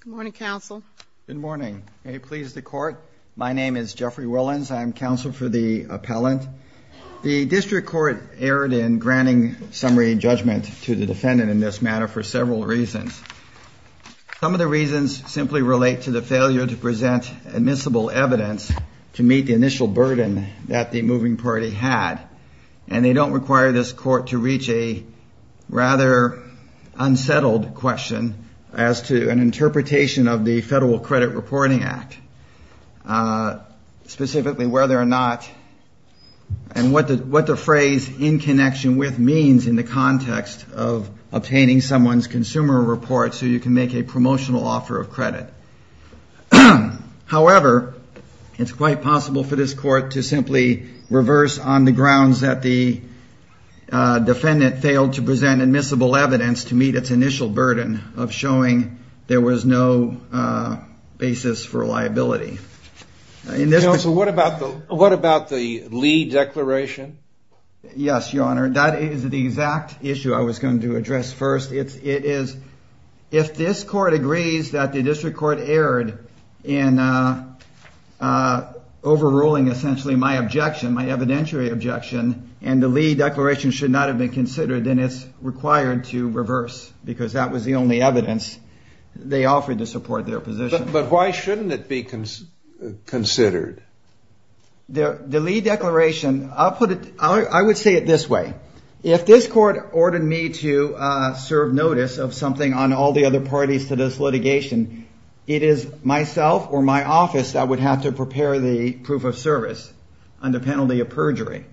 Good morning, counsel. Good morning. May it please the court. My name is Jeffrey Willens. I'm counsel for the appellant. The district court erred in granting summary judgment to the defendant in this matter for several reasons. Some of the reasons simply relate to the failure to present admissible evidence to meet the initial burden that the moving party had. And they don't require this court to reach a rather unsettled question as to an interpretation of the Federal Credit Reporting Act. Specifically, whether or not and what the phrase in connection with means in the context of obtaining someone's consumer report so you can make a promotional offer of credit. However, it's quite possible for this court to simply reverse on the grounds that the defendant failed to present admissible evidence to meet its initial burden of showing there was no basis for liability. Counsel, what about the Lee declaration? Yes, Your Honor. That is the exact issue I was going to address first. If this court agrees that the district court erred in overruling essentially my objection, my evidentiary objection, and the Lee declaration should not have been considered, then it's required to reverse because that was the only evidence they offered to support their position. But why shouldn't it be considered? The Lee declaration, I would say it this way. If this court ordered me to serve notice of something on all the other parties to this litigation, it is myself or my office that would have to prepare the proof of service under penalty of perjury.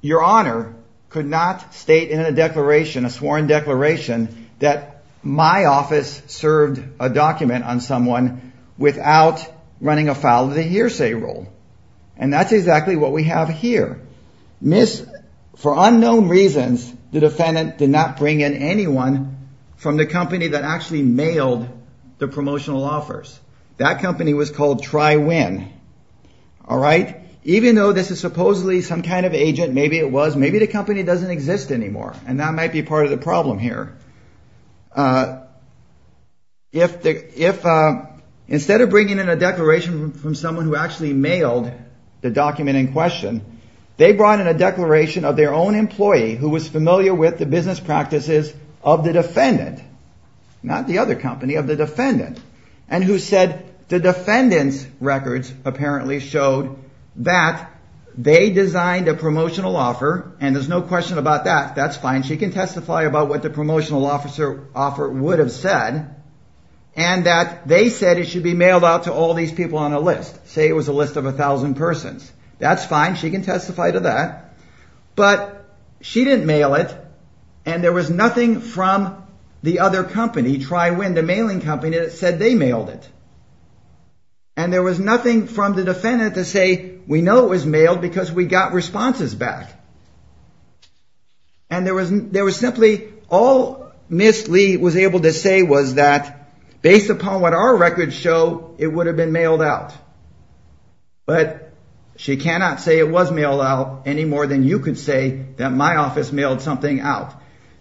Your Honor could not state in a declaration, a sworn declaration, that my office served a document on someone without running afoul of the hearsay rule. And that's exactly what we have here. For unknown reasons, the defendant did not bring in anyone from the company that actually mailed the promotional offers. That company was called Tri-Win. Even though this is supposedly some kind of agent, maybe it was, maybe the company doesn't exist anymore. And that might be part of the problem here. Instead of bringing in a declaration from someone who actually mailed the document in question, they brought in a declaration of their own employee who was familiar with the business practices of the defendant. Not the other company, of the defendant. And who said the defendant's records apparently showed that they designed a promotional offer. And there's no question about that. That's fine. She can testify about what the promotional offer would have said. And that they said it should be mailed out to all these people on a list. Say it was a list of a thousand persons. That's fine. She can testify to that. But she didn't mail it. And there was nothing from the other company, Tri-Win, the mailing company, that said they mailed it. And there was nothing from the defendant to say, we know it was mailed because we got responses back. And there was simply, all Ms. Lee was able to say was that, based upon what our records show, it would have been mailed out. But she cannot say it was mailed out any more than you could say that my office mailed something out.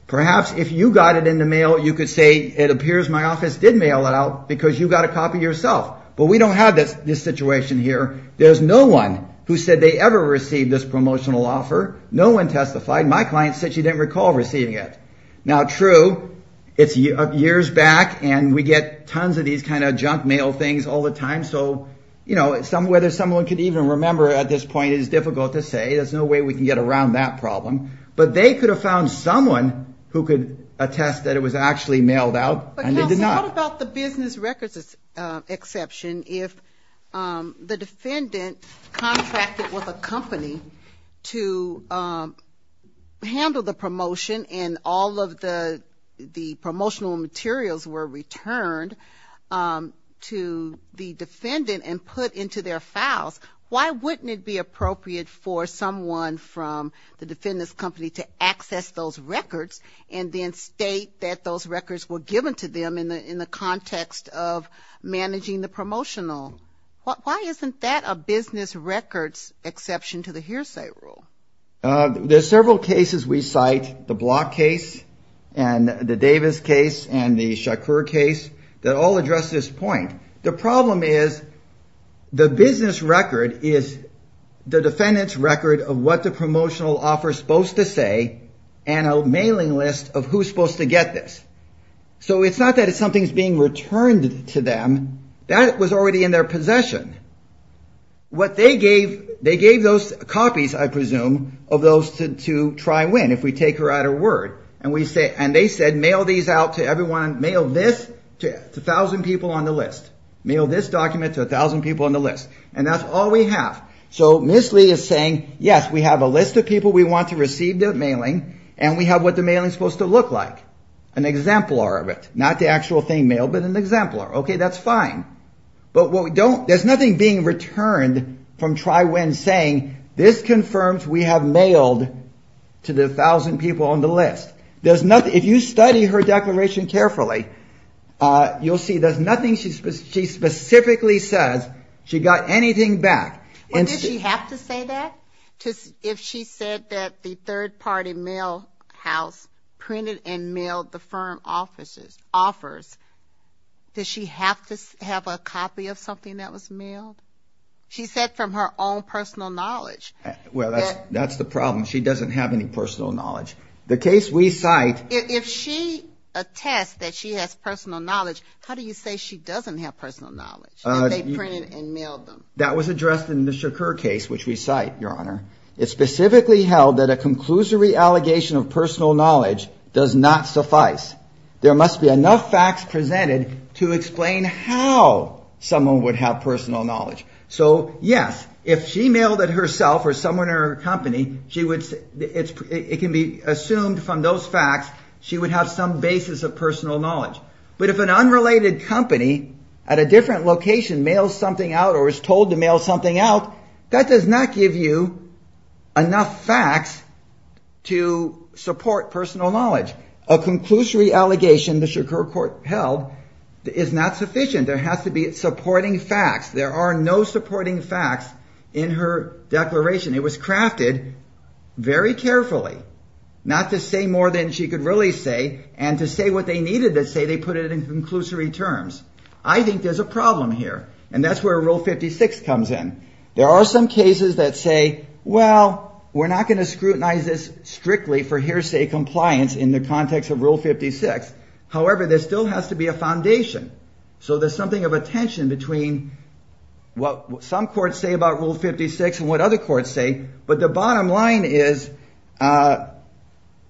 Perhaps if you got it in the mail, you could say it appears my office did mail it out because you got a copy yourself. But we don't have this situation here. There's no one who said they ever received this promotional offer. No one testified. My client said she didn't recall receiving it. Now, true, it's years back, and we get tons of these kind of junk mail things all the time. So, you know, whether someone could even remember at this point is difficult to say. There's no way we can get around that problem. But they could have found someone who could attest that it was actually mailed out, and they did not. What about the business records exception? If the defendant contracted with a company to handle the promotion, and all of the promotional materials were returned to the defendant and put into their files, why wouldn't it be appropriate for someone from the defendant's company to access those records and then state that those records were given to them in the context of managing the promotional? Why isn't that a business records exception to the hearsay rule? There's several cases we cite, the Block case and the Davis case and the Shakur case, that all address this point. The problem is the business record is the defendant's record of what the promotional offer is supposed to say, and a mailing list of who's supposed to get this. So it's not that something's being returned to them. That was already in their possession. What they gave, they gave those copies, I presume, of those to try and win, if we take her at her word. And they said, mail these out to everyone, mail this to a thousand people on the list. Mail this document to a thousand people on the list. And that's all we have. So Miss Lee is saying, yes, we have a list of people we want to receive the mailing, and we have what the mailing's supposed to look like, an exemplar of it. Not the actual thing mailed, but an exemplar. OK, that's fine. But there's nothing being returned from Try-Win saying, this confirms we have mailed to the thousand people on the list. If you study her declaration carefully, you'll see there's nothing she specifically says she got anything back. Well, did she have to say that? If she said that the third-party mail house printed and mailed the firm offers, does she have to have a copy of something that was mailed? She said from her own personal knowledge. Well, that's the problem. She doesn't have any personal knowledge. The case we cite. If she attests that she has personal knowledge, how do you say she doesn't have personal knowledge? That they printed and mailed them. That was addressed in the Shakur case, which we cite, Your Honor. It specifically held that a conclusory allegation of personal knowledge does not suffice. There must be enough facts presented to explain how someone would have personal knowledge. So, yes, if she mailed it herself or someone in her company, it can be assumed from those facts she would have some basis of personal knowledge. But if an unrelated company at a different location mails something out or is told to mail something out, that does not give you enough facts to support personal knowledge. A conclusory allegation the Shakur court held is not sufficient. There has to be supporting facts. There are no supporting facts in her declaration. It was crafted very carefully not to say more than she could really say and to say what they needed to say. They put it in conclusory terms. I think there's a problem here, and that's where Rule 56 comes in. There are some cases that say, well, we're not going to scrutinize this strictly for hearsay compliance in the context of Rule 56. However, there still has to be a foundation. So there's something of a tension between what some courts say about Rule 56 and what other courts say. But the bottom line is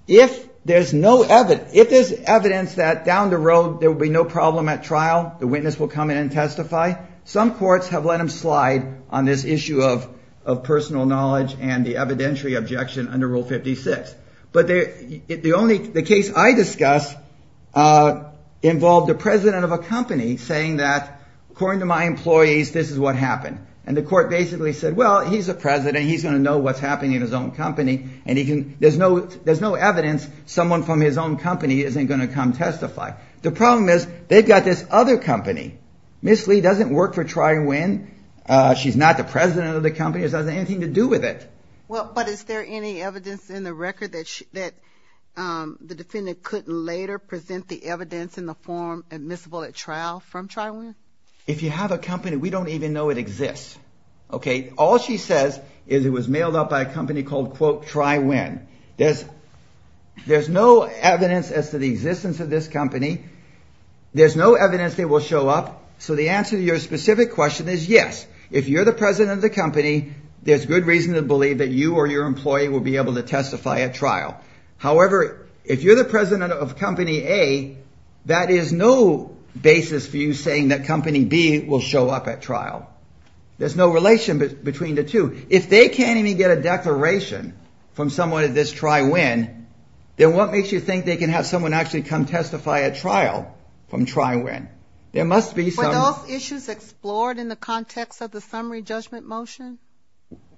if there's evidence that down the road there will be no problem at trial, the witness will come in and testify, some courts have let them slide on this issue of personal knowledge and the evidentiary objection under Rule 56. But the case I discuss involved the president of a company saying that, according to my employees, this is what happened. And the court basically said, well, he's a president. He's going to know what's happening in his own company. And there's no evidence someone from his own company isn't going to come testify. The problem is they've got this other company. Ms. Lee doesn't work for Tri-Win. She's not the president of the company. It doesn't have anything to do with it. But is there any evidence in the record that the defendant couldn't later present the evidence in the form admissible at trial from Tri-Win? If you have a company, we don't even know it exists. OK, all she says is it was mailed up by a company called, quote, Tri-Win. There's no evidence as to the existence of this company. There's no evidence they will show up. So the answer to your specific question is yes, if you're the president of the company, there's good reason to believe that you or your employee will be able to testify at trial. However, if you're the president of Company A, that is no basis for you saying that Company B will show up at trial. There's no relation between the two. If they can't even get a declaration from someone at this Tri-Win, then what makes you think they can have someone actually come testify at trial from Tri-Win? There must be some – Were those issues explored in the context of the summary judgment motion?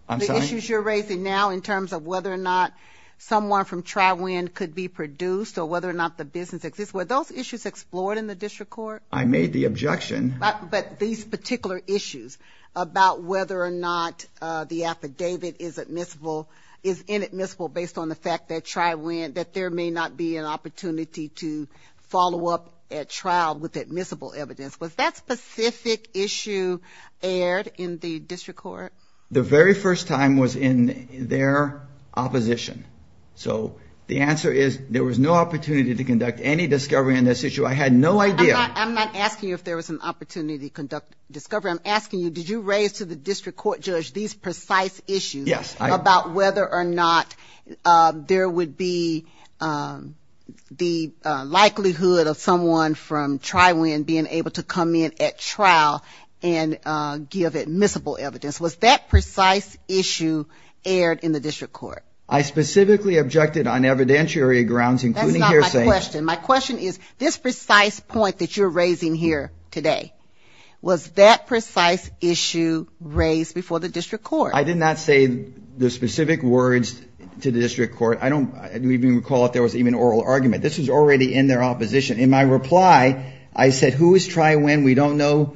I'm sorry? The issues you're raising now in terms of whether or not someone from Tri-Win could be produced or whether or not the business exists, were those issues explored in the district court? I made the objection. But these particular issues about whether or not the affidavit is admissible, is inadmissible based on the fact that Tri-Win, that there may not be an opportunity to follow up at trial with admissible evidence, was that specific issue aired in the district court? The very first time was in their opposition. So the answer is there was no opportunity to conduct any discovery on this issue. I had no idea. I'm not asking you if there was an opportunity to conduct discovery. I'm asking you, did you raise to the district court judge these precise issues about whether or not there would be the likelihood of someone from Tri-Win being able to come in at trial and give admissible evidence? Was that precise issue aired in the district court? I specifically objected on evidentiary grounds, including hearsay. That's not my question. My question is, this precise point that you're raising here today, was that precise issue raised before the district court? I did not say the specific words to the district court. I don't even recall if there was even an oral argument. This was already in their opposition. In my reply, I said, who is Tri-Win? We don't know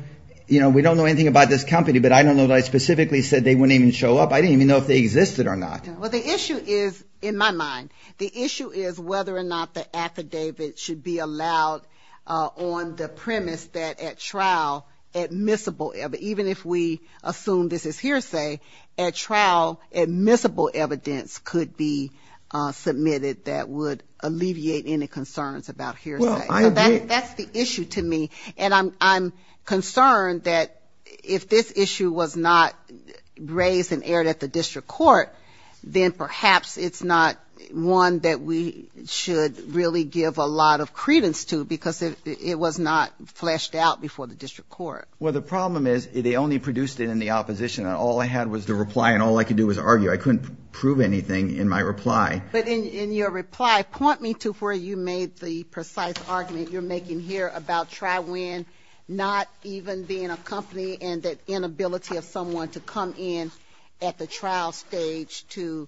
anything about this company. But I don't know that I specifically said they wouldn't even show up. I didn't even know if they existed or not. Well, the issue is, in my mind, the issue is whether or not the affidavit should be allowed on the premise that at trial, admissible, even if we assume this is hearsay, at trial, admissible evidence could be submitted that would alleviate any concerns about hearsay. That's the issue to me. And I'm concerned that if this issue was not raised and aired at the district court, then perhaps it's not one that we should really give a lot of credence to because it was not fleshed out before the district court. Well, the problem is they only produced it in the opposition. All I had was the reply, and all I could do was argue. I couldn't prove anything in my reply. But in your reply, point me to where you made the precise argument you're making here about TriWin not even being a company and the inability of someone to come in at the trial stage to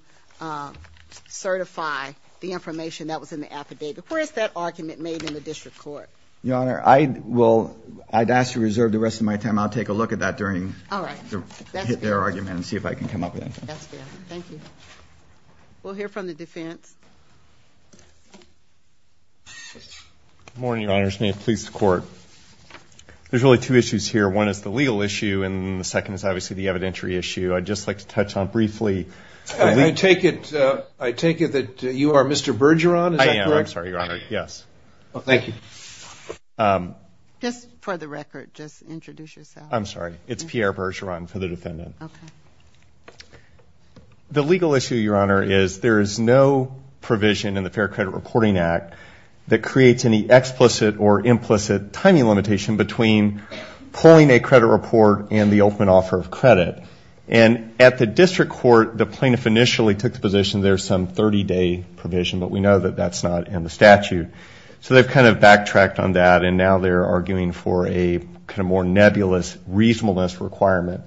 certify the information that was in the affidavit. Where is that argument made in the district court? Your Honor, I'd ask to reserve the rest of my time. I'll take a look at that during their argument and see if I can come up with anything. That's good. Thank you. We'll hear from the defense. Good morning, Your Honor. This is the police court. There's really two issues here. One is the legal issue, and the second is obviously the evidentiary issue. I'd just like to touch on briefly. I take it that you are Mr. Bergeron? I am. I'm sorry, Your Honor. Yes. Thank you. Just for the record, just introduce yourself. I'm sorry. It's Pierre Bergeron for the defendant. Okay. The legal issue, Your Honor, is there is no provision in the Fair Credit Reporting Act that creates any explicit or implicit timing limitation between pulling a credit report and the open offer of credit. And at the district court, the plaintiff initially took the position there's some 30-day provision, but we know that that's not in the statute. So they've kind of backtracked on that, and now they're arguing for a kind of more nebulous reasonableness requirement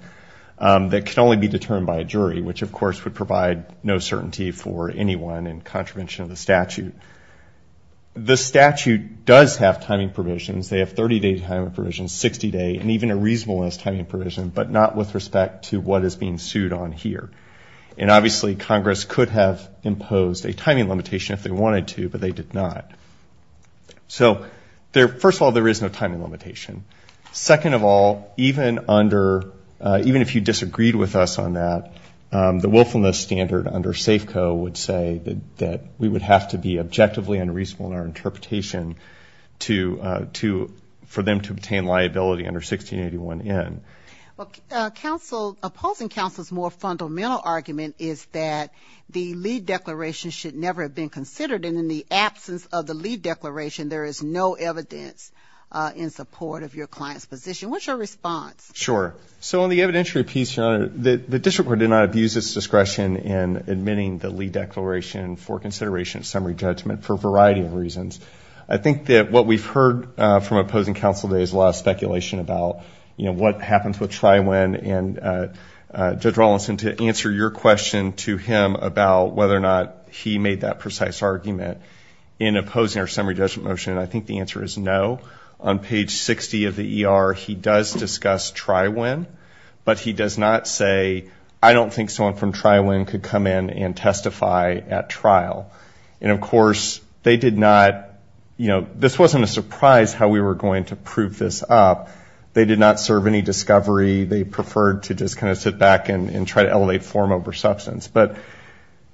that can only be determined by a jury, which of course would provide no certainty for anyone in contravention of the statute. The statute does have timing provisions. They have 30-day timing provisions, 60-day, and even a reasonableness timing provision, but not with respect to what is being sued on here. And obviously Congress could have imposed a timing limitation if they wanted to, but they did not. So first of all, there is no timing limitation. Second of all, even if you disagreed with us on that, the willfulness standard under Safeco would say that we would have to be objectively unreasonable in our interpretation for them to obtain liability under 1681N. Well, opposing counsel's more fundamental argument is that the lead declaration should never have been considered, and in the absence of the lead declaration, there is no evidence in support of your client's position. What's your response? Sure. So on the evidentiary piece, Your Honor, the district court did not abuse its discretion in admitting the lead declaration for consideration of summary judgment for a variety of reasons. I think that what we've heard from opposing counsel today is a lot of speculation about, you know, what happens with try-when, and Judge Rawlinson, to answer your question to him about whether or not he made that conclusion, and I think the answer is no. On page 60 of the ER, he does discuss try-when, but he does not say, I don't think someone from try-when could come in and testify at trial. And, of course, they did not, you know, this wasn't a surprise how we were going to prove this up. They did not serve any discovery. They preferred to just kind of sit back and try to elevate form over substance. But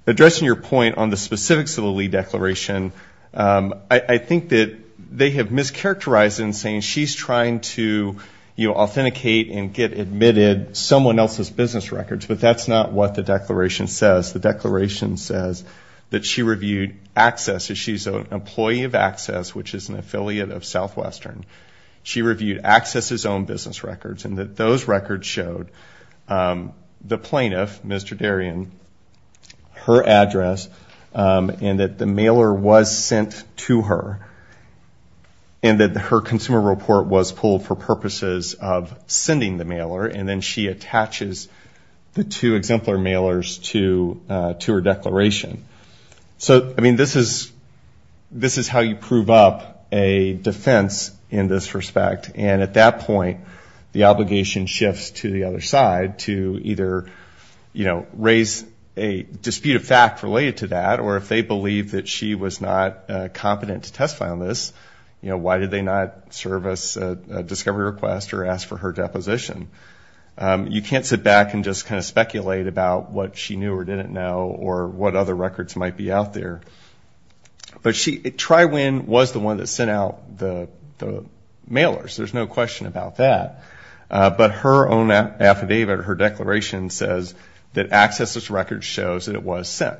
addressing your point on the specifics of the lead declaration, I think that they have mischaracterized it in saying she's trying to, you know, authenticate and get admitted someone else's business records, but that's not what the declaration says. The declaration says that she reviewed access, that she's an employee of Access, which is an affiliate of Southwestern. She reviewed Access's own business records, and that those records showed the plaintiff, Mr. Darien, her address, and that the mailer was sent to her, and that her consumer report was pulled for purposes of sending the mailer, and then she attaches the two exemplar mailers to her declaration. So, I mean, this is how you prove up a defense in this respect. And at that point, the obligation shifts to the other side to either, you know, raise a dispute of fact related to that, or if they believe that she was not competent to testify on this, you know, why did they not service a discovery request or ask for her deposition? You can't sit back and just kind of speculate about what she knew or didn't know or what other records might be out there. But she, Tri-Win was the one that sent out the mailers. There's no question about that. But her own affidavit or her declaration says that Access's record shows that it was sent.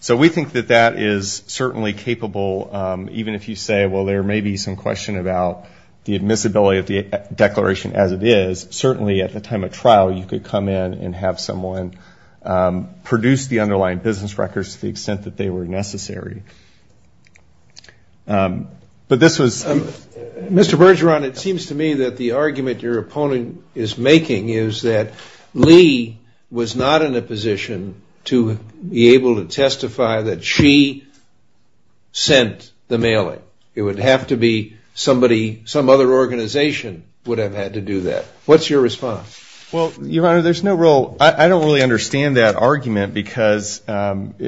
So we think that that is certainly capable, even if you say, well, there may be some question about the admissibility of the declaration as it is, certainly at the time of trial you could come in and have someone produce the underlying business records to the extent that they were necessary. But this was. Mr. Bergeron, it seems to me that the argument your opponent is making is that Lee was not in a position to be able to testify that she sent the mailing. It would have to be somebody, some other organization would have had to do that. What's your response? Well, Your Honor, there's no real, I don't really understand that argument because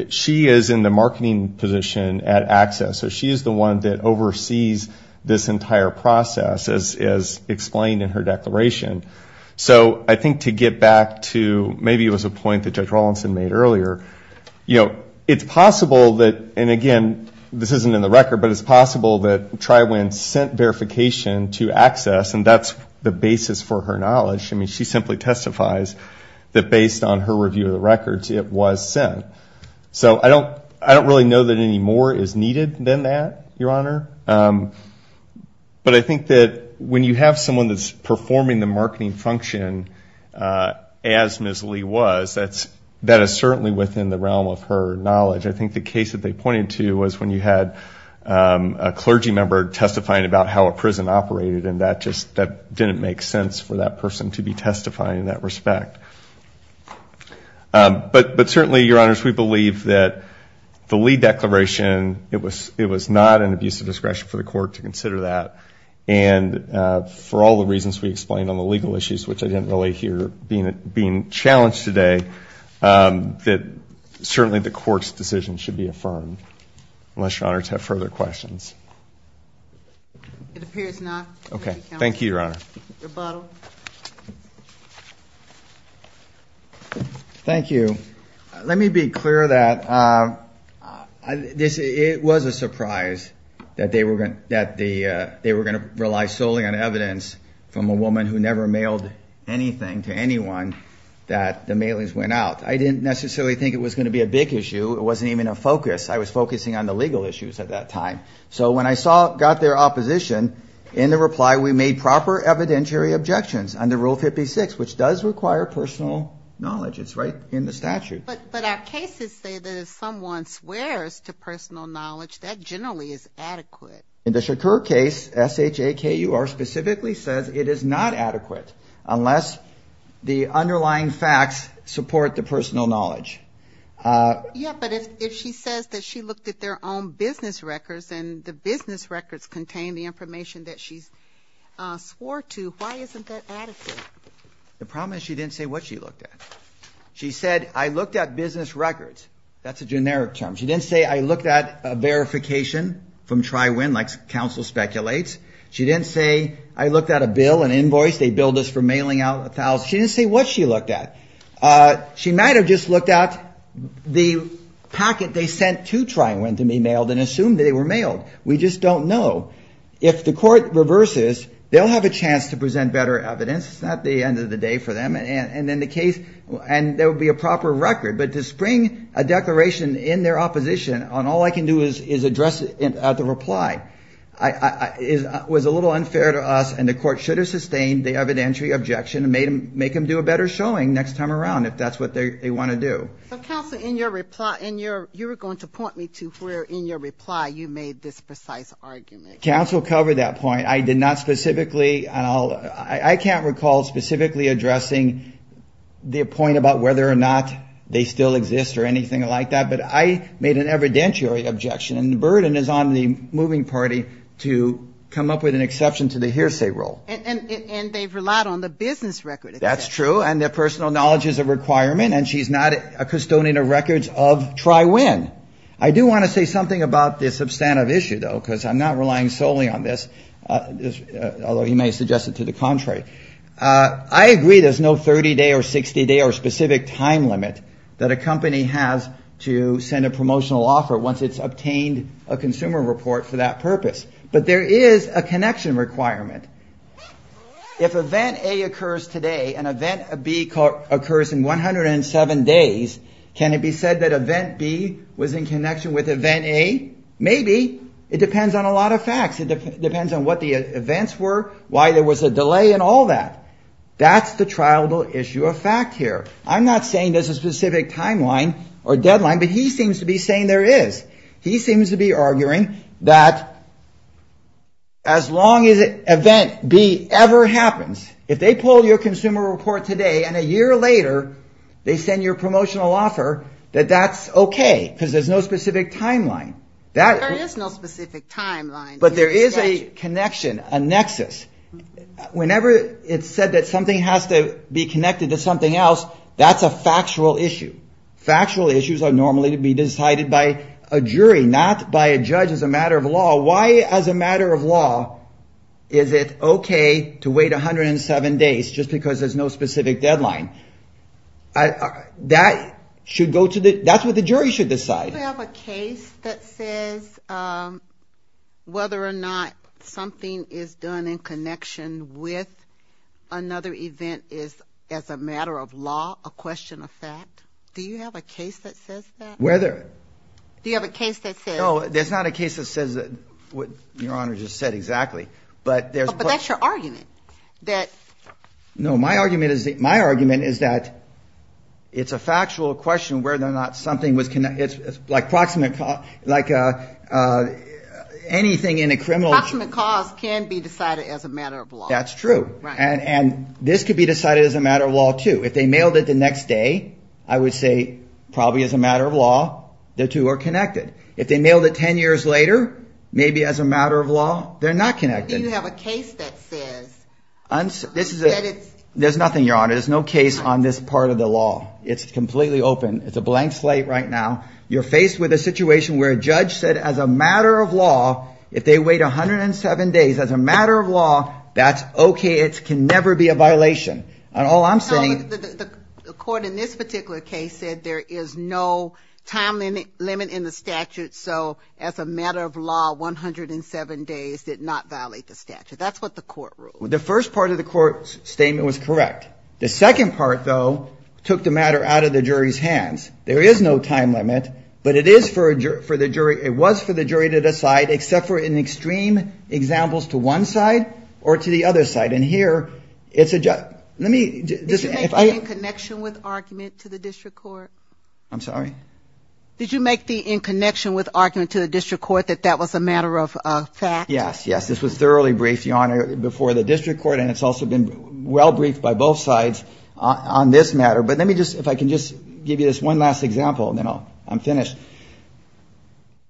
she is in the marketing position at Access. So she is the one that oversees this entire process as explained in her declaration. So I think to get back to maybe it was a point that Judge Rawlinson made earlier, you know, it's possible that, and again, this isn't in the record, but it's possible that Tri-Win sent verification to Access and that's the basis for her knowledge. I mean, she simply testifies that based on her review of the records it was sent. So I don't really know that any more is needed than that, Your Honor. But I think that when you have someone that's performing the marketing function as Ms. Lee was, that is certainly within the realm of her knowledge. I think the case that they pointed to was when you had a clergy member testifying about how a prison operated and that just didn't make sense for that person to be testifying in that respect. But certainly, Your Honors, we believe that the Lee declaration, it was not an abuse of discretion for the court to consider that. And for all the reasons we explained on the legal issues, which I didn't really hear being challenged today, that certainly the court's decision should be affirmed, unless Your Honors have further questions. It appears not. Okay. Thank you, Your Honor. Your bottle. Thank you. Let me be clear that it was a surprise that they were going to rely solely on evidence from a woman who never mailed anything to anyone that the mailings went out. I didn't necessarily think it was going to be a big issue. It wasn't even a focus. I was focusing on the legal issues at that time. So when I got their opposition in the reply, we made proper evidentiary objections under Rule 56, which does require personal knowledge. It's right in the statute. But our cases say that if someone swears to personal knowledge, that generally is adequate. In the Shakur case, S-H-A-K-U-R specifically says it is not adequate unless the underlying facts support the personal knowledge. Yeah, but if she says that she looked at their own business records and the business records contain the information that she swore to, why isn't that adequate? The problem is she didn't say what she looked at. She said, I looked at business records. That's a generic term. She didn't say, I looked at verification from Tri-Win, like counsel speculates. She didn't say, I looked at a bill, an invoice. They billed us for mailing out 1,000. She didn't say what she looked at. She might have just looked at the packet they sent to Tri-Win to be mailed and assumed they were mailed. We just don't know. If the court reverses, they'll have a chance to present better evidence. It's not the end of the day for them. And then the case, and there will be a proper record. But to spring a declaration in their opposition on all I can do is address it at the reply was a little unfair to us, and the court should have sustained the evidentiary objection and make them do a better showing next time around, if that's what they want to do. So, counsel, in your reply, you were going to point me to where in your reply you made this precise argument. Counsel covered that point. I did not specifically. I can't recall specifically addressing the point about whether or not they still exist or anything like that. But I made an evidentiary objection. And the burden is on the moving party to come up with an exception to the hearsay rule. And they've relied on the business record. That's true. And their personal knowledge is a requirement. And she's not a custodian of records of Tri-Win. I do want to say something about this substantive issue, though, because I'm not relying solely on this, although you may suggest it to the contrary. I agree there's no 30-day or 60-day or specific time limit that a company has to send a promotional offer once it's obtained a consumer report for that purpose. But there is a connection requirement. If event A occurs today and event B occurs in 107 days, can it be said that event B was in connection with event A? Maybe. It depends on a lot of facts. It depends on what the events were, why there was a delay, and all that. That's the triable issue of fact here. I'm not saying there's a specific timeline or deadline, but he seems to be saying there is. He seems to be arguing that as long as event B ever happens, if they pull your consumer report today and a year later they send you a promotional offer, that that's okay because there's no specific timeline. There is no specific timeline. But there is a connection, a nexus. Whenever it's said that something has to be connected to something else, that's a factual issue. Factual issues are normally to be decided by a jury, not by a judge as a matter of law. Why, as a matter of law, is it okay to wait 107 days just because there's no specific deadline? That's what the jury should decide. Do you have a case that says whether or not something is done in connection with another event is, as a matter of law, a question of fact? Do you have a case that says that? Whether. Do you have a case that says? No, there's not a case that says what Your Honor just said exactly. But that's your argument. No, my argument is that it's a factual question whether or not something was connected. It's like anything in a criminal. Proximate cause can be decided as a matter of law. That's true. And this could be decided as a matter of law too. If they mailed it the next day, I would say probably as a matter of law, the two are connected. If they mailed it 10 years later, maybe as a matter of law, they're not connected. Do you have a case that says? There's nothing, Your Honor. There's no case on this part of the law. It's completely open. It's a blank slate right now. You're faced with a situation where a judge said, as a matter of law, if they wait 107 days, as a matter of law, that's okay. It can never be a violation. And all I'm saying. The court in this particular case said there is no time limit in the statute. So as a matter of law, 107 days did not violate the statute. That's what the court ruled. The first part of the court's statement was correct. The second part, though, took the matter out of the jury's hands. There is no time limit, but it is for the jury. It was for the jury to decide, except for in extreme examples to one side or to the other side. And here, it's a judge. Did you make the in connection with argument to the district court? I'm sorry? Did you make the in connection with argument to the district court that that was a matter of fact? Yes, yes. This was thoroughly briefed, Your Honor, before the district court. And it's also been well briefed by both sides on this matter. But let me just, if I can just give you this one last example, and then I'm finished.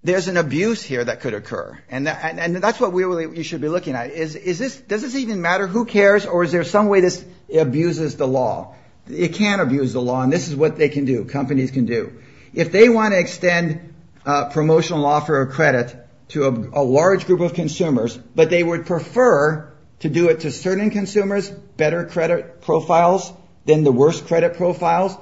There's an abuse here that could occur. And that's what you should be looking at. Does this even matter? Who cares? Or is there some way this abuses the law? It can abuse the law, and this is what they can do, companies can do. If they want to extend a promotional offer of credit to a large group of consumers, but they would prefer to do it to certain consumers, better credit profiles than the worst credit profiles,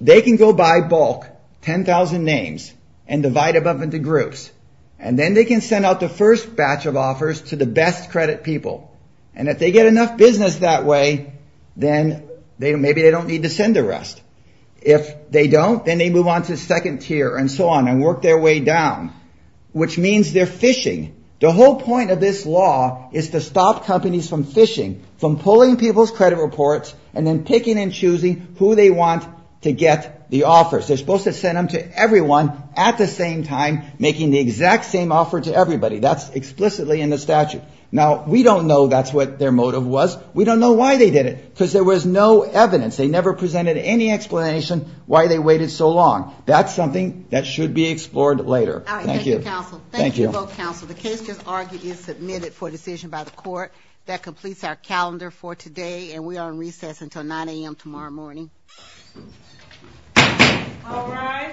they can go by bulk, 10,000 names, and divide them up into groups. And then they can send out the first batch of offers to the best credit people. And if they get enough business that way, then maybe they don't need to send the rest. If they don't, then they move on to second tier and so on and work their way down, which means they're fishing. The whole point of this law is to stop companies from fishing, from pulling people's credit reports and then picking and choosing who they want to get the offers. They're supposed to send them to everyone at the same time, making the exact same offer to everybody. That's explicitly in the statute. Now, we don't know that's what their motive was. We don't know why they did it, because there was no evidence. They never presented any explanation why they waited so long. That's something that should be explored later. Thank you. All right. Thank you, counsel. Thank you both, counsel. The case just argued is submitted for decision by the court. That completes our calendar for today, and we are on recess until 9 a.m. tomorrow morning. All rise.